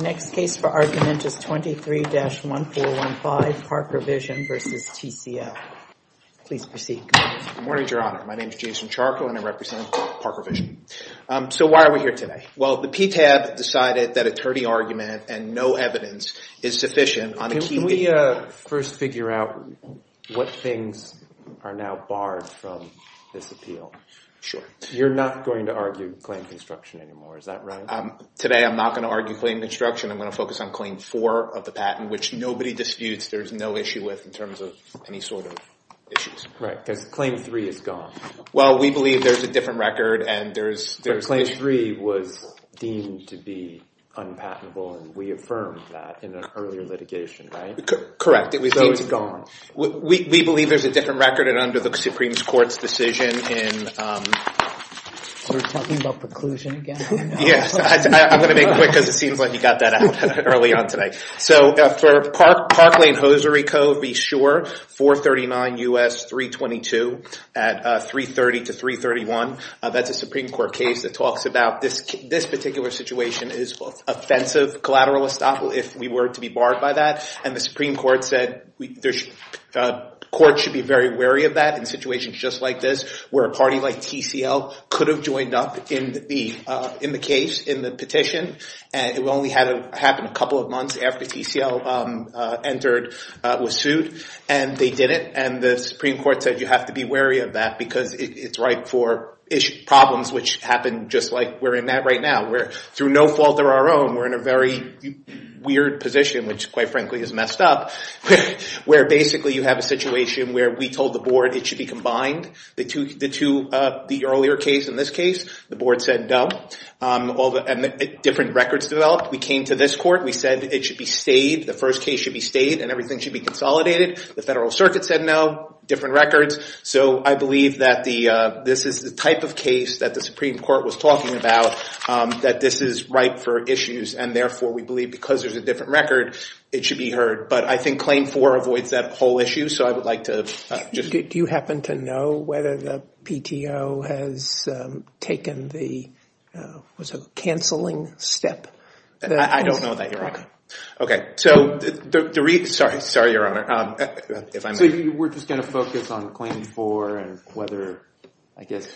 The next case for argument is 23-1415, ParkerVision v. TCL. Please proceed. Good morning, Your Honor. My name is Jason Charco and I represent ParkerVision. So why are we here today? Well, the PTAB decided that attorney argument and no evidence is sufficient on the key— Can we first figure out what things are now barred from this appeal? Sure. You're not going to argue claim construction anymore, is that right? Today, I'm not going to argue claim construction. I'm going to focus on Claim 4 of the patent, which nobody disputes there's no issue with in terms of any sort of issues. Right. Because Claim 3 is gone. Well, we believe there's a different record and there's— But Claim 3 was deemed to be unpatentable and we affirmed that in an earlier litigation, right? Correct. It was deemed to be— So it's gone. We believe there's a different record and under the Supreme Court's decision in— We're talking about preclusion again? Yes. I'm going to make it quick because it seems like he got that out early on today. So for Parkland-Hosiery Code, be sure, 439 U.S. 322 at 330 to 331, that's a Supreme Court case that talks about this particular situation is offensive collateral estoppel if we were to be barred by that. And the Supreme Court said courts should be very wary of that in situations just like this where a party like TCL could have joined up in the case, in the petition, and it only happened a couple of months after TCL entered, was sued, and they didn't. And the Supreme Court said you have to be wary of that because it's ripe for problems which happen just like we're in that right now where through no fault of our own, we're in a very weird position, which quite frankly is messed up, where basically you have a situation where we told the board it should be combined. The earlier case in this case, the board said no. Different records developed. We came to this court. We said it should be stayed. The first case should be stayed and everything should be consolidated. The Federal Circuit said no. Different records. So I believe that this is the type of case that the Supreme Court was talking about, that this is ripe for issues, and therefore we believe because there's a different record, it should be heard. But I think Claim 4 avoids that whole issue, so I would like to just- Do you happen to know whether the PTO has taken the, what's it called, cancelling step? I don't know that, Your Honor. Okay. So, sorry, Your Honor. If I may. So you were just going to focus on Claim 4 and whether, I guess,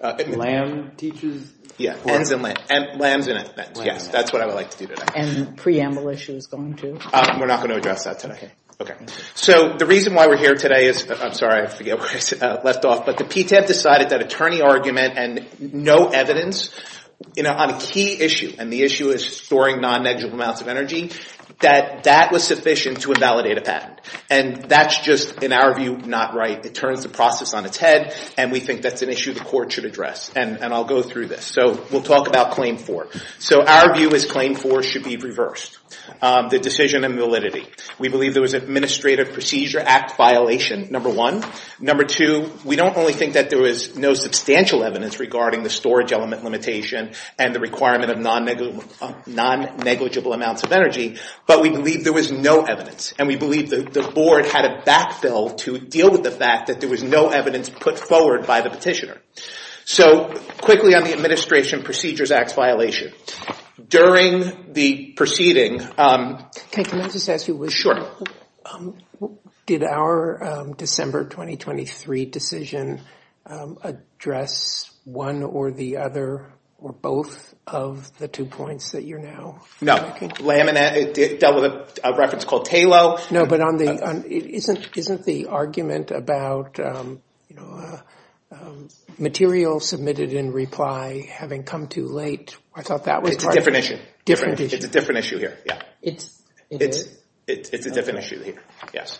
LAM teaches- Yeah. LAMs and FNs. LAMs and FNs. Yes. That's what I would like to do today. Okay. And the preamble issue is going to? We're not going to address that today. Okay. So the reason why we're here today is, I'm sorry, I forget where I left off, but the PTAB decided that attorney argument and no evidence on a key issue, and the issue is storing non-negative amounts of energy, that that was sufficient to invalidate a patent. And that's just, in our view, not right. It turns the process on its head, and we think that's an issue the court should address. And I'll go through this. So we'll talk about Claim 4. So our view is Claim 4 should be reversed. The decision and validity. We believe there was an Administrative Procedure Act violation, number one. Number two, we don't only think that there was no substantial evidence regarding the storage element limitation and the requirement of non-negligible amounts of energy, but we believe there was no evidence. And we believe the board had a backfill to deal with the fact that there was no evidence put forward by the petitioner. So quickly on the Administration Procedures Act violation. During the proceeding... Can I just ask you a question? Sure. Did our December 2023 decision address one or the other or both of the two points that you're now... No. Delved with a reference called TALO. No, but isn't the argument about material submitted in reply having come too late? I thought that was part of... It's a different issue. Different issue. It's a different issue here. Yeah. It is? It's a different issue here. Yes.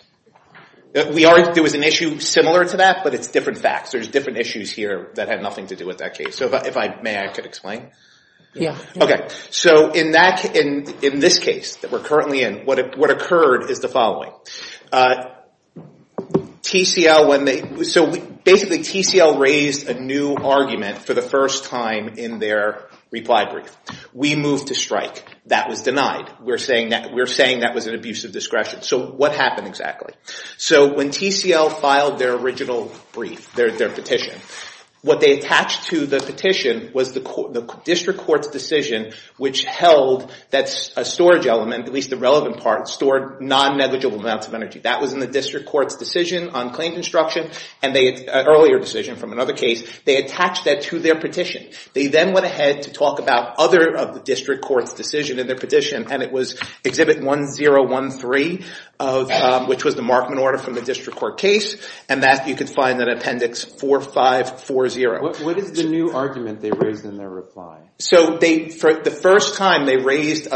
There was an issue similar to that, but it's different facts. There's different issues here that had nothing to do with that case. So if I may, I could explain? Yeah. Okay. So in this case that we're currently in, what occurred is the following. So basically, TCL raised a new argument for the first time in their reply brief. We moved to strike. That was denied. We're saying that was an abuse of discretion. So what happened exactly? So when TCL filed their original brief, their petition, what they attached to the petition was the district court's decision, which held that a storage element, at least the relevant part, stored non-negligible amounts of energy. That was in the district court's decision on claim construction, an earlier decision from another case. They attached that to their petition. They then went ahead to talk about other of the district court's decision in their petition, and it was Exhibit 1013, which was the Markman order from the district court case, and that you can find in Appendix 4540. What is the new argument they raised in their reply? So the first time they raised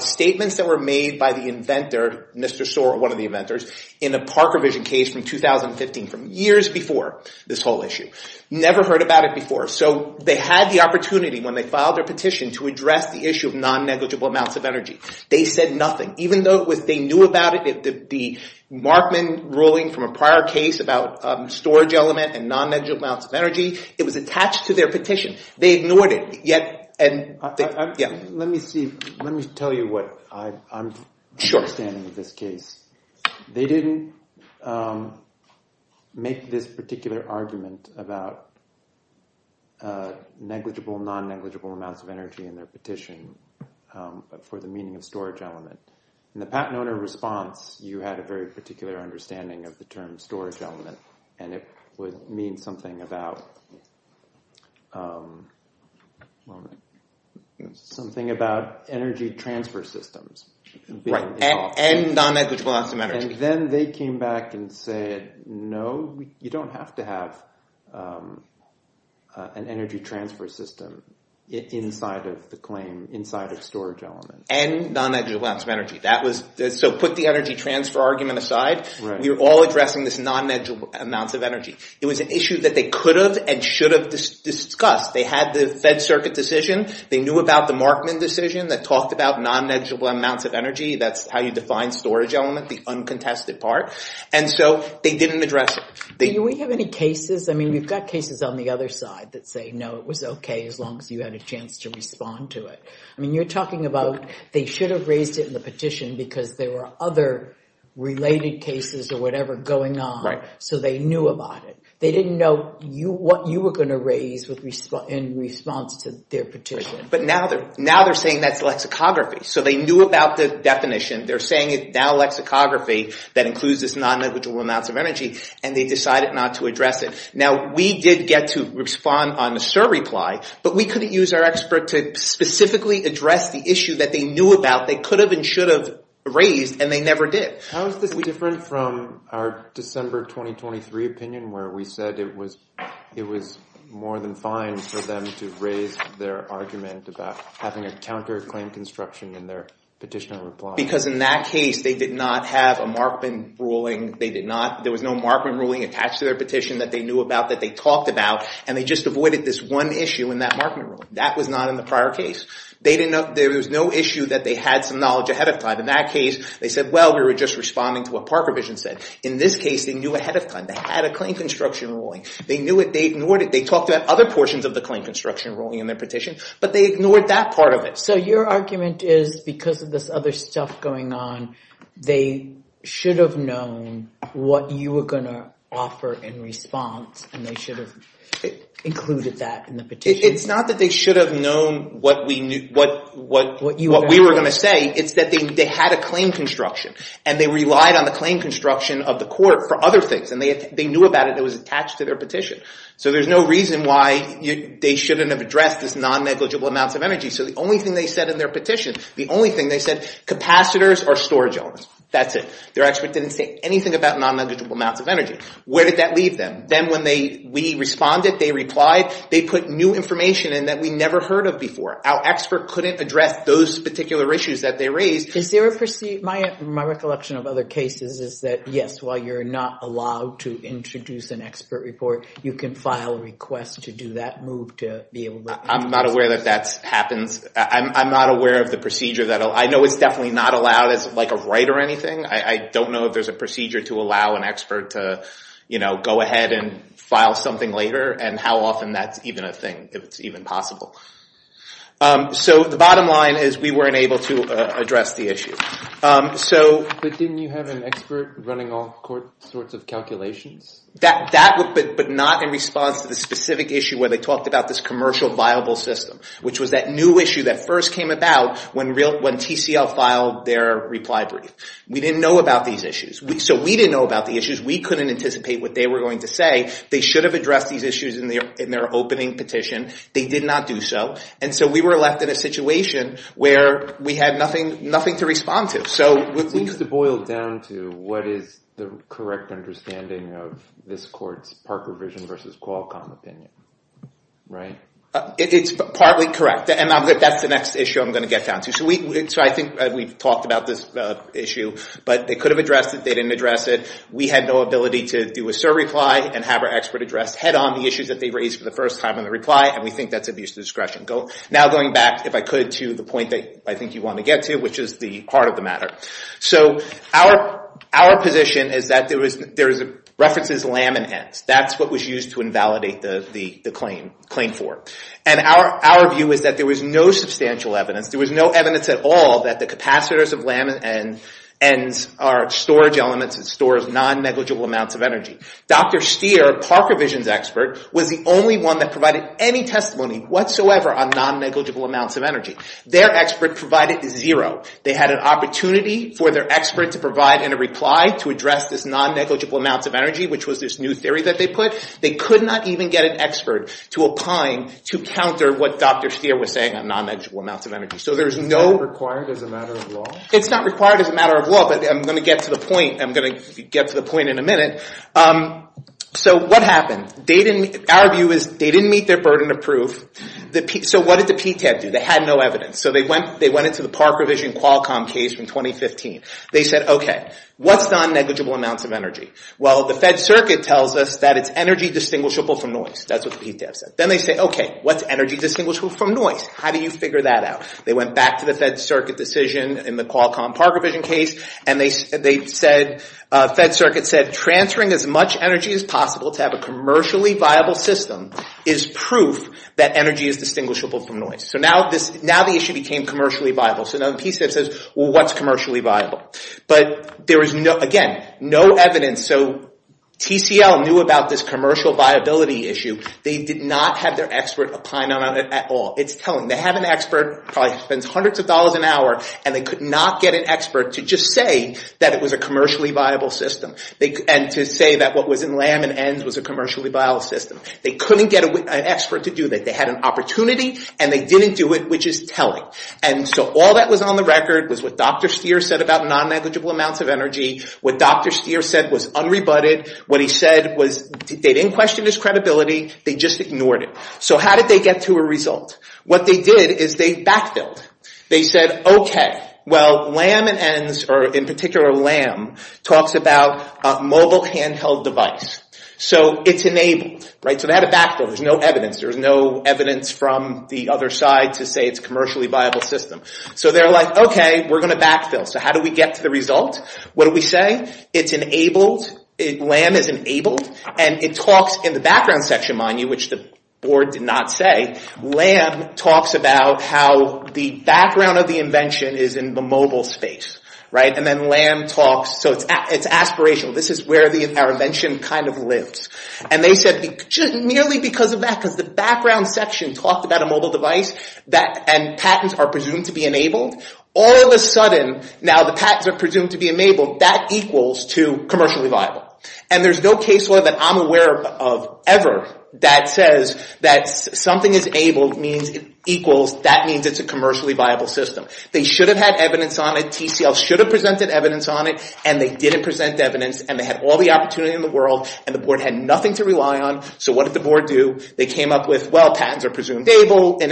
statements that were made by the inventor, Mr. Soar, one of the inventors, in a Parker vision case from 2015, from years before this whole issue. Never heard about it before. So they had the opportunity when they filed their petition to address the issue of non-negligible amounts of energy. They said nothing. Even though they knew about it, the Markman ruling from a prior case about storage element and non-negligible amounts of energy, it was attached to their petition. They ignored it. Yet, and yeah. Let me see. Let me tell you what I'm understanding of this case. They didn't make this particular argument about negligible, non-negligible amounts of energy in their petition for the meaning of storage element. In the patent owner response, you had a very particular understanding of the term storage element. And it would mean something about, well, something about energy transfer systems. Right. And non-negligible amounts of energy. And then they came back and said, no, you don't have to have an energy transfer system inside of the claim, inside of storage element. And non-negligible amounts of energy. That was, so put the energy transfer argument aside. We're all addressing this non-negligible amounts of energy. It was an issue that they could have and should have discussed. They had the Fed Circuit decision. They knew about the Markman decision that talked about non-negligible amounts of energy. That's how you define storage element, the uncontested part. And so they didn't address it. Do we have any cases? I mean, we've got cases on the other side that say, no, it was okay as long as you had a chance to respond to it. I mean, you're talking about they should have raised it in the petition because there were other related cases or whatever going on. So they knew about it. They didn't know what you were going to raise in response to their petition. But now they're saying that's lexicography. So they knew about the definition. They're saying it's now lexicography that includes this non-negligible amounts of energy. And they decided not to address it. Now, we did get to respond on the SIR reply, but we couldn't use our expert to specifically address the issue that they knew about. They could have and should have raised, and they never did. How is this different from our December 2023 opinion where we said it was more than fine for them to raise their argument about having a counterclaim construction in their petition reply? Because in that case, they did not have a Markman ruling. They did not. There was no Markman ruling attached to their petition that they knew about that they talked about. And they just avoided this one issue in that Markman ruling. That was not in the prior case. There was no issue that they had some knowledge ahead of time. In that case, they said, well, we were just responding to what part provision said. In this case, they knew ahead of time. They had a claim construction ruling. They knew it. They ignored it. They talked about other portions of the claim construction ruling in their petition, but they ignored that part of it. So your argument is because of this other stuff going on, they should have known what you were going to offer in response, and they should have included that in the petition? It's not that they should have known what we were going to say. It's that they had a claim construction, and they relied on the claim construction of the court for other things. And they knew about it. It was attached to their petition. So there's no reason why they shouldn't have addressed this non-negligible amounts of energy. So the only thing they said in their petition, the only thing they said, capacitors or storage elements. That's it. Their expert didn't say anything about non-negligible amounts of energy. Where did that leave them? Then when we responded, they replied, they put new information in that we never heard of before. Our expert couldn't address those particular issues that they raised. My recollection of other cases is that, yes, while you're not allowed to introduce an expert report, you can file a request to do that move to be able to- I'm not aware that that happens. I'm not aware of the procedure that- I know it's definitely not allowed as like a right or anything. I don't know if there's a procedure to allow an expert to go ahead and file something later and how often that's even a thing, if it's even possible. So the bottom line is we weren't able to address the issue. So- But didn't you have an expert running all sorts of calculations? That but not in response to the specific issue where they talked about this commercial viable system, which was that new issue that first came about when TCL filed their reply brief. We didn't know about these issues. So we didn't know about the issues. We couldn't anticipate what they were going to say. They should have addressed these issues in their opening petition. They did not do so. And so we were left in a situation where we had nothing to respond to. So- It seems to boil down to what is the correct understanding of this court's Parker Vision versus Qualcomm opinion, right? It's partly correct. And that's the next issue I'm going to get down to. So I think we've talked about this issue. But they could have addressed it. They didn't address it. We had no ability to do a cert reply and have our expert address head-on the issues that they raised for the first time in the reply, and we think that's abuse of discretion. Now going back, if I could, to the point that I think you wanted to get to, which is the heart of the matter. So our position is that there is a reference to LAM and ENDS. That's what was used to invalidate the claim for. And our view is that there was no substantial evidence. There was no evidence at all that the capacitors of LAM and ENDS are storage elements and stores non-negligible amounts of energy. Dr. Steer, Parker Vision's expert, was the only one that provided any testimony whatsoever on non-negligible amounts of energy. Their expert provided zero. They had an opportunity for their expert to provide in a reply to address this non-negligible amounts of energy, which was this new theory that they put. They could not even get an expert to opine to counter what Dr. Steer was saying on non-negligible amounts of energy. It's not required as a matter of law? It's not required as a matter of law, but I'm going to get to the point in a minute. So what happened? Our view is they didn't meet their burden of proof. So what did the PTAB do? They had no evidence. So they went into the Parker Vision Qualcomm case from 2015. They said, OK, what's non-negligible amounts of energy? Well, the Fed Circuit tells us that it's energy distinguishable from noise. That's what the PTAB said. Then they say, OK, what's energy distinguishable from noise? How do you figure that out? They went back to the Fed Circuit decision in the Qualcomm Parker Vision case, and the Fed Circuit said transferring as much energy as possible to have a commercially viable system is proof that energy is distinguishable from noise. So now the issue became commercially viable. So now the PTAB says, well, what's commercially viable? But there was, again, no evidence. So TCL knew about this commercial viability issue. They did not have their expert opine on it at all. It's telling. They have an expert who probably spends hundreds of dollars an hour, and they could not get an expert to just say that it was a commercially viable system, and to say that what was in Lamb and Enns was a commercially viable system. They couldn't get an expert to do that. They had an opportunity, and they didn't do it, which is telling. And so all that was on the record was what Dr. Steer said about non-negligible amounts of energy, what Dr. Steer said was unrebutted, what he said was they didn't question his credibility. They just ignored it. So how did they get to a result? What they did is they backfilled. They said, okay, well, Lamb and Enns, or in particular Lamb, talks about a mobile handheld device. So it's enabled, right? So they had a backfill. There's no evidence. There's no evidence from the other side to say it's a commercially viable system. So they're like, okay, we're going to backfill. So how do we get to the result? What do we say? It's enabled. Lamb is enabled. And it talks in the background section, mind you, which the board did not say, Lamb talks about how the background of the invention is in the mobile space, right? And then Lamb talks, so it's aspirational. This is where our invention kind of lives. And they said, merely because of that, because the background section talked about a mobile device, and patents are presumed to be enabled. All of a sudden, now the patents are presumed to be enabled. That equals to commercially viable. And there's no case law that I'm aware of ever that says that something is enabled means it equals, that means it's a commercially viable system. They should have had evidence on it. TCL should have presented evidence on it. And they didn't present evidence. And they had all the opportunity in the world. And the board had nothing to rely on. So what did the board do? They came up with, well, patents are presumed enabled.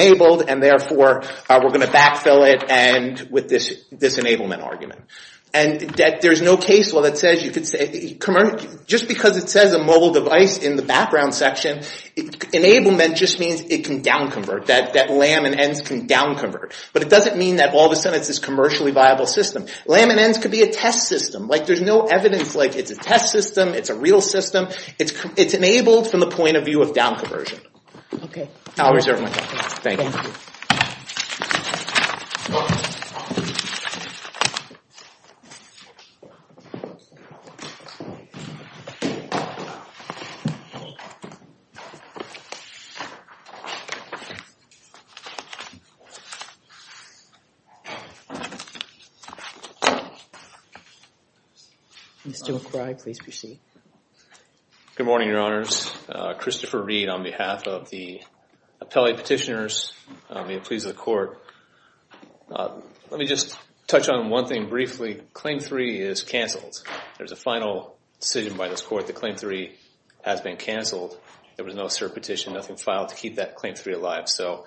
And therefore, we're going to backfill it with this enablement argument. And there's no case law that says you could say, just because it says a mobile device in the background section, enablement just means it can downconvert, that Lamb and ENDS can downconvert. But it doesn't mean that all of a sudden it's this commercially viable system. Lamb and ENDS could be a test system. Like, there's no evidence, like, it's a test system, it's a real system. It's enabled from the point of view of downconversion. Okay. I'll reserve my time. Thank you. Thank you. Mr. McCrye, please proceed. Good morning, your honors. Christopher Reed on behalf of the appellate petitioners. Let me just touch on one thing briefly. Claim three is canceled. There's a final decision by this court that claim three has been canceled. There was no assert petition, nothing filed to keep that claim three alive. So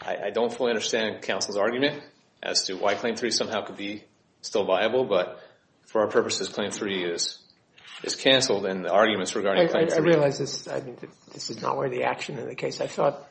I don't fully understand counsel's argument as to why claim three somehow could be still viable. But for our purposes, claim three is canceled. And the arguments regarding claim three. I realize this is not where the action in the case, I thought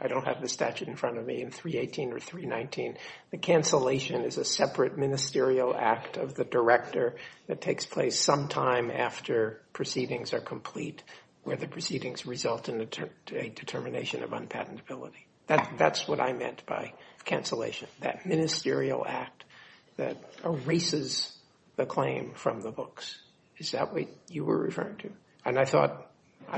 I don't have the statute in front of me in 318 or 319, the cancellation is a separate ministerial act of the director that takes place sometime after proceedings are complete, where the proceedings result in a determination of unpatentability. That's what I meant by cancellation, that ministerial act that erases the claim from the books. Is that what you were referring to? And I thought,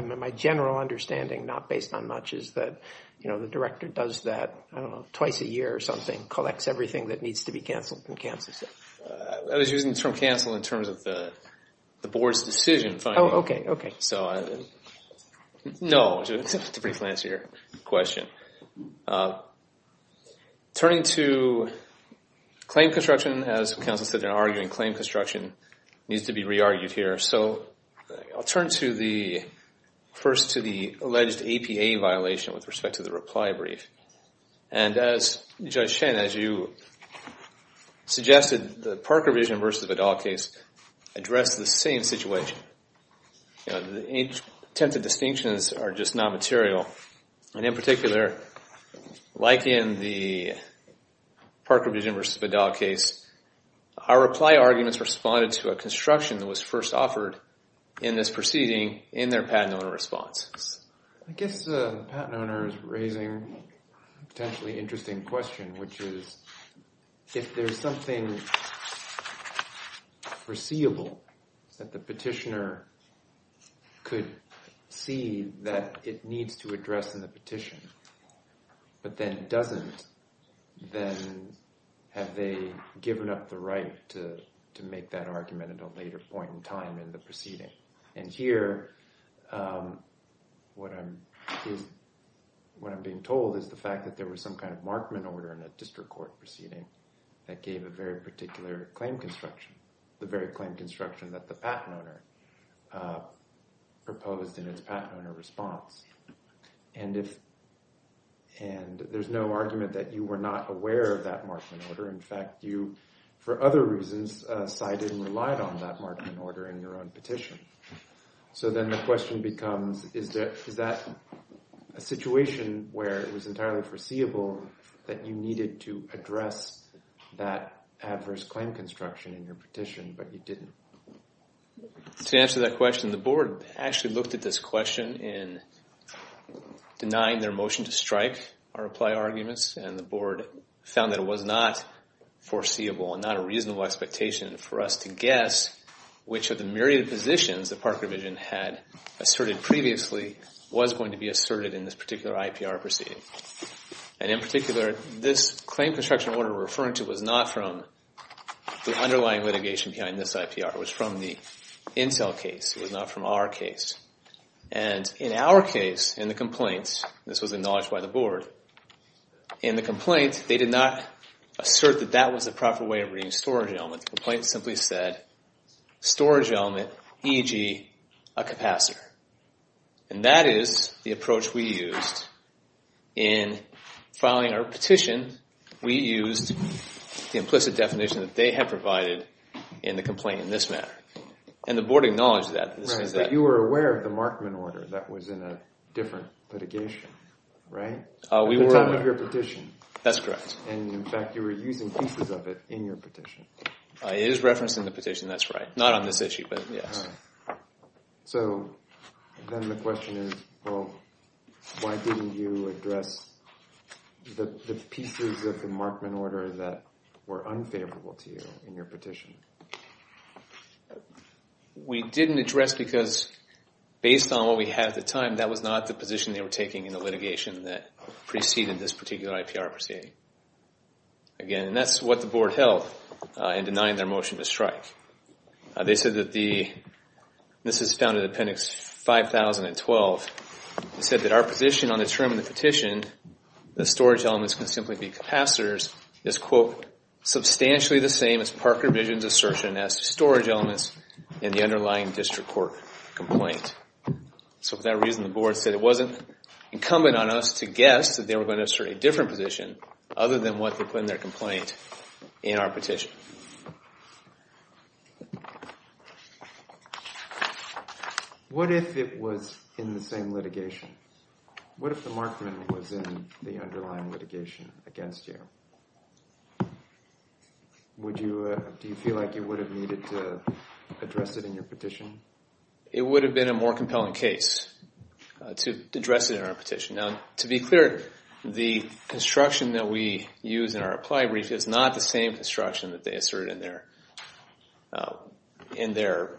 my general understanding, not based on much, is that the director does that twice a year or something, collects everything that needs to be canceled and cancels it. I was using the term canceled in terms of the board's decision. Oh, okay. Okay. No, it's a pretty fancier question. Turning to claim construction, as counsel said, they're arguing claim construction needs to be re-argued here. So I'll turn first to the alleged APA violation with respect to the reply brief. And as Judge Shen, as you suggested, the Parker v. Vidal case addressed the same situation. The attempted distinctions are just non-material. And in particular, like in the Parker v. Vidal case, our reply arguments responded to a construction that was first offered in this proceeding in their patent owner response. I guess the patent owner is raising a potentially interesting question, which is, if there's something foreseeable that the petitioner could see that it needs to address in the petition, but then doesn't, then have they given up the right to make that argument at a later point in time in the proceeding? And here, what I'm being told is the fact that there was some kind of markman order in a district court proceeding that gave a very particular claim construction, the very claim construction that the patent owner proposed in its patent owner response. And there's no argument that you were not aware of that markman order. In fact, you, for other reasons, cited and relied on that markman order in your own petition. So then the question becomes, is that a situation where it was entirely foreseeable that you needed to address that adverse claim construction in your petition, but you didn't? To answer that question, the board actually looked at this question in denying their motion to strike or apply arguments, and the board found that it was not foreseeable and not a reasonable expectation for us to guess which of the myriad of positions that Park Revision had asserted previously was going to be asserted in this particular IPR proceeding. And in particular, this claim construction order we're referring to was not from the underlying litigation behind this IPR. It was from the Incel case. It was not from our case. And in our case, in the complaint, this was acknowledged by the board, in the complaint, they did not assert that that was the proper way of reading storage element. The complaint simply said, storage element, e.g., a capacitor. And that is the approach we used in filing our petition. We used the implicit definition that they had provided in the complaint in this matter. And the board acknowledged that. But you were aware of the Markman order that was in a different litigation, right? At the time of your petition. That's correct. And in fact, you were using pieces of it in your petition. It is referenced in the petition, that's right. Not on this issue, but yes. So then the question is, well, why didn't you address the pieces of the Markman order that were unfavorable to you in your petition? We didn't address because, based on what we had at the time, that was not the position they were taking in the litigation that preceded this particular IPR proceeding. Again, and that's what the board held in denying their motion to strike. They said that the, this is found in appendix 50012, they said that our position on the term of the petition, the storage elements can simply be capacitors, is, quote, substantially the same as Parker Vision's assertion as storage elements in the underlying district court complaint. So for that reason, the board said it wasn't incumbent on us to guess that they were going to assert a different position other than what they put in their complaint in our petition. What if it was in the same litigation? What if the Markman was in the underlying litigation against you? Would you, do you feel like you would have needed to address it in your petition? It would have been a more compelling case to address it in our petition. Now, to be clear, the construction that we use in our reply brief is not the same construction that they assert in their, in their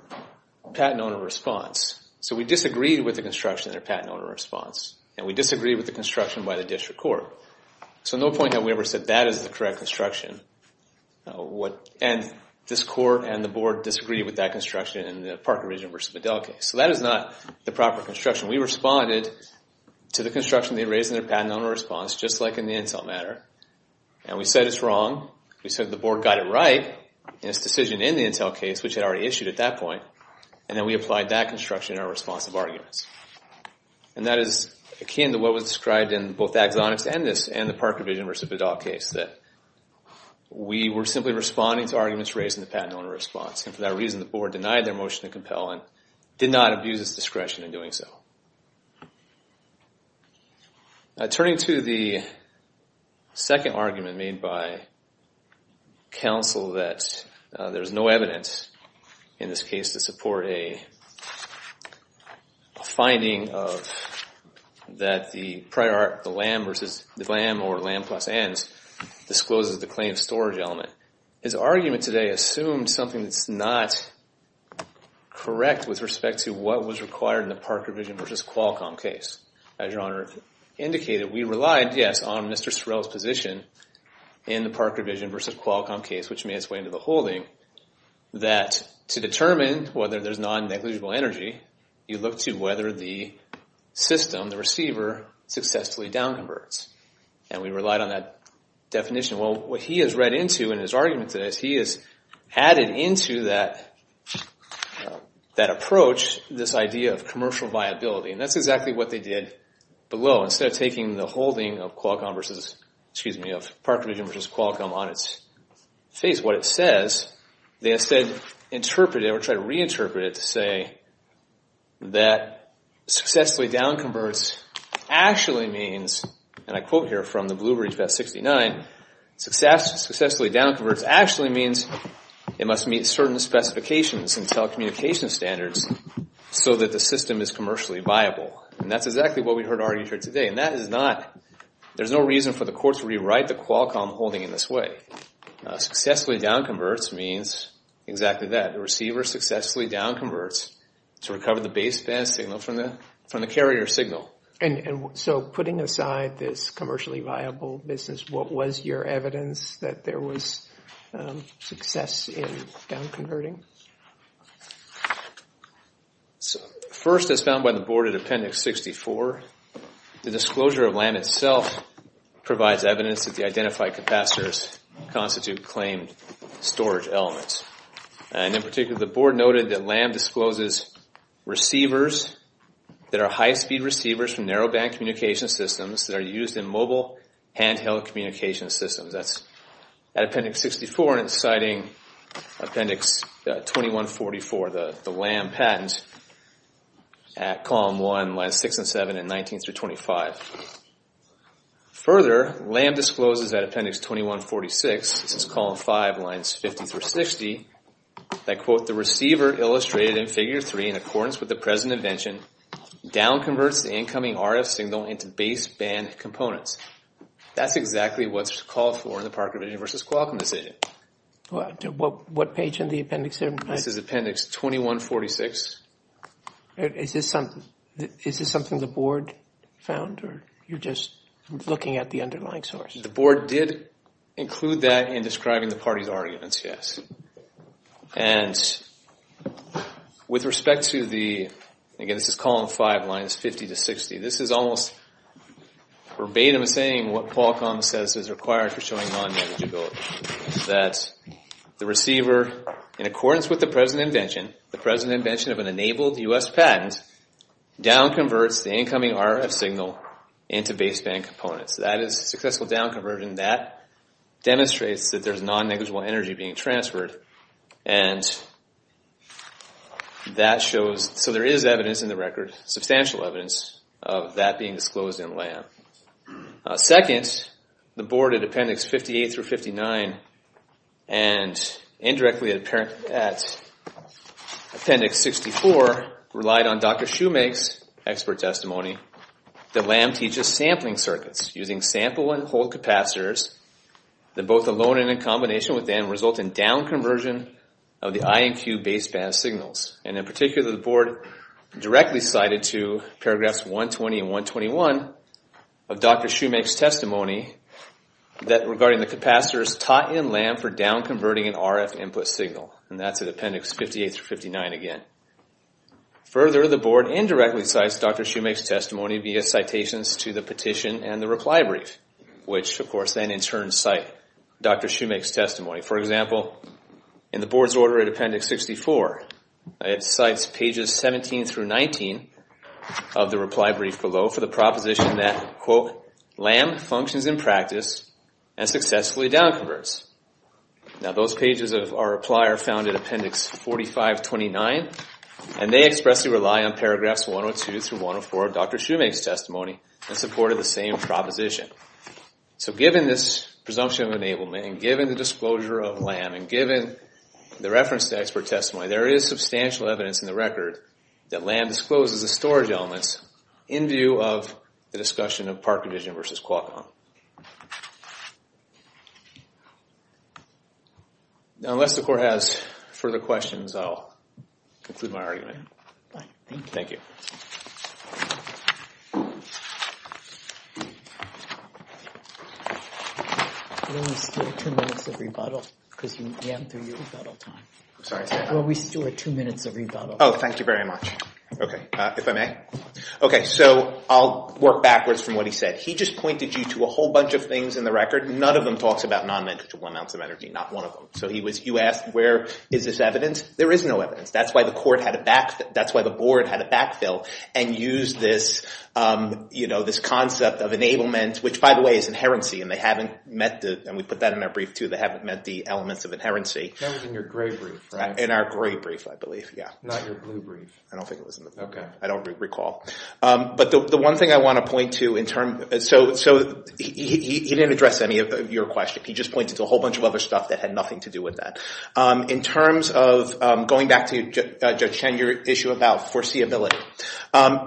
patent owner response. So we disagreed with the construction in their patent owner response. And we disagreed with the construction by the district court. So no point that we ever said that is the correct construction. What, and this court and the board disagreed with that construction in the Parker Vision versus Bedell case. So that is not the proper construction. We responded to the construction they raised in their patent owner response, just like in the Intel matter. And we said it's wrong. We said the board got it right in its decision in the Intel case, which it already issued at that point. And then we applied that construction in our response of arguments. And that is akin to what was described in both Axonix and this, and the Parker Vision versus Bedell case, that we were simply responding to arguments raised in the patent owner response. And for that reason, the board denied their motion to compel and did not abuse its discretion in doing so. Turning to the second argument made by counsel that there is no evidence in this case to support a finding of that the LAM versus the LAM or LAM plus ends discloses the claim of storage element. His argument today assumed something that's not correct with respect to what was required in the Parker Vision versus Qualcomm case. As your honor indicated, we relied, yes, on Mr. Sorrell's position in the Parker Vision versus Qualcomm case, which made its way into the holding, that to determine whether there's non-negligible energy, you look to whether the system, the receiver, successfully down converts. And we relied on that definition. Well, what he has read into in his argument today is he has added into that approach this idea of commercial viability. And that's exactly what they did below. Instead of taking the holding of Parker Vision versus Qualcomm on its face, what it says, they instead interpret it or try to reinterpret it to say that successfully down converts actually means, and I quote here from the Blueberry Fest 69, successfully down converts actually means it must meet certain specifications and telecommunications standards so that the system is commercially viable. And that's exactly what we heard argued here today. And that is not, there's no reason for the court to rewrite the Qualcomm holding in this way. Successfully down converts means exactly that. The receiver successfully down converts to recover the baseband signal from the carrier signal. And so putting aside this commercially viable business, what was your evidence that there was success in down converting? First, as found by the board at Appendix 64, the disclosure of LAM itself provides evidence that the identified capacitors constitute claimed storage elements. And in particular, the board noted that LAM discloses receivers that are high-speed receivers from narrowband communication systems that are used in mobile handheld communication systems. 2144, the LAM patent at Column 1, Lines 6 and 7, and 19 through 25. Further, LAM discloses at Appendix 2146, this is Column 5, Lines 50 through 60, that quote, the receiver illustrated in Figure 3 in accordance with the present invention down converts the incoming RF signal into baseband components. That's exactly what's called for in the Parker v. Qualcomm decision. What page in the appendix there? This is Appendix 2146. Is this something the board found, or you're just looking at the underlying source? The board did include that in describing the party's arguments, yes. And with respect to the, again, this is Column 5, Lines 50 to 60, this is almost verbatim saying what Qualcomm says is required for showing non-manageability. That the receiver, in accordance with the present invention, the present invention of an enabled U.S. patent, down converts the incoming RF signal into baseband components. That is a successful down conversion. That demonstrates that there's non-negligible energy being transferred. And that shows, so there is evidence in the record, substantial evidence of that being disclosed in LAM. Second, the board at Appendix 58 through 59 and indirectly at Appendix 64 relied on Dr. Shoemake's expert testimony that LAM teaches sampling circuits using sample and hold capacitors that both alone and in combination with them result in down conversion of the I and Q baseband signals. And in particular, the board directly cited to paragraphs 120 and 121 of Dr. Shoemake's testimony that regarding the capacitors taught in LAM for down converting an RF input signal. And that's at Appendix 58 through 59 again. Further, the board indirectly cites Dr. Shoemake's testimony via citations to the petition and the reply brief, which of course then in turn cite Dr. Shoemake's testimony. For example, in the board's order at Appendix 64, it cites pages 17 through 19 of the reply brief below for the proposition that, quote, LAM functions in practice and successfully down converts. Now those pages of our reply are found in Appendix 4529 and they expressly rely on paragraphs 102 through 104 of Dr. Shoemake's testimony and supported the same proposition. So given this presumption of enablement and given the disclosure of LAM and given the reference to expert testimony, there is substantial evidence in the record that LAM discloses the storage elements in view of the discussion of Park Division versus Qualcomm. Now unless the court has further questions, I'll conclude my argument. Thank you. We only have two minutes of rebuttal because we haven't done your rebuttal time. I'm sorry. Well, we still have two minutes of rebuttal. Oh, thank you very much. OK, if I may. OK, so I'll work backwards from what he said. He just pointed you to a whole bunch of things in the record. None of them talks about non-manageable amounts of energy, not one of them. So you asked, where is this evidence? There is no evidence. That's why the court had a backfill. That's why the board had a backfill and used this concept of enablement, which, by the way, is inherency. And they haven't met the, and we put that in our brief too, they haven't met the elements of inherency. That was in your gray brief, right? In our gray brief, I believe, yeah. Not your blue brief. I don't think it was in the blue brief. I don't recall. But the one thing I want to point to in terms, so he didn't address any of your question. He just pointed to a whole bunch of other stuff that had nothing to do with that. In terms of going back to, Judge Chen, your issue about foreseeability,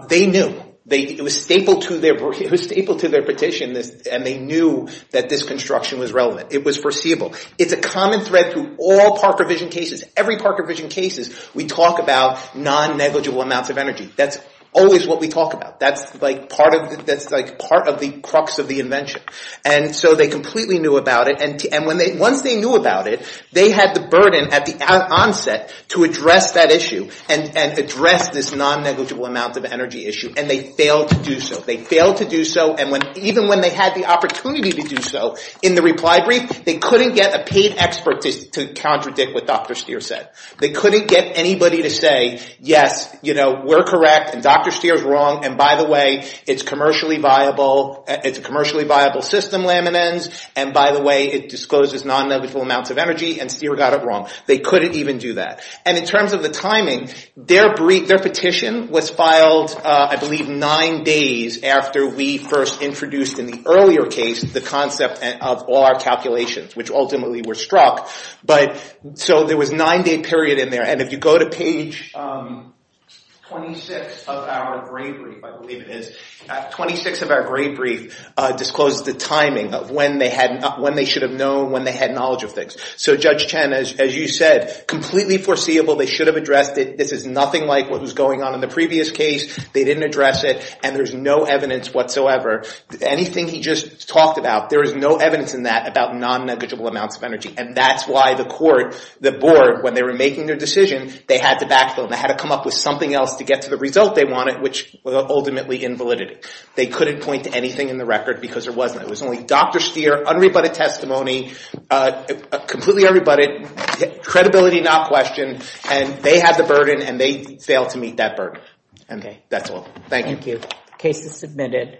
they knew, it was stapled to their petition, and they knew that this construction was relevant. It was foreseeable. It's a common thread through all Parker vision cases. Every Parker vision case, we talk about non-negligible amounts of energy. That's always what we talk about. That's part of the crux of the invention. And so they completely knew about it. And once they knew about it, they had the burden at the onset to address that issue and address this non-negligible amount of energy issue. And they failed to do so. They failed to do so. And even when they had the opportunity to do so in the reply brief, they couldn't get a paid expert to contradict what Dr. Stier said. They couldn't get anybody to say, yes, we're correct, and Dr. Stier's wrong, and by the way, it's commercially viable. It's a commercially viable system, Lamin-N's, and by the way, it discloses non-negligible amounts of energy, and Stier got it wrong. They couldn't even do that. And in terms of the timing, their petition was filed, I believe, nine days after we first introduced in the earlier case the concept of our calculations, which ultimately were struck. So there was a nine-day period in there. And if you go to page 26 of our grade brief, I believe it is, 26 of our grade brief discloses the timing of when they should have known, when they had knowledge of things. So Judge Chen, as you said, completely foreseeable. They should have addressed it. This is nothing like what was going on in the previous case. They didn't address it. And there's no evidence whatsoever. Anything he just talked about, there is no evidence in that about non-negligible amounts of energy. And that's why the court, the board, when they were making their decision, they had to backfill. They had to come up with something else to get to the result they wanted, which was ultimately invalidity. They couldn't point to anything in the record because there wasn't. It was only Dr. Stier, unrebutted testimony, completely unrebutted, credibility not questioned, and they had the burden, and they failed to meet that burden. And that's all. Thank you. Case is submitted.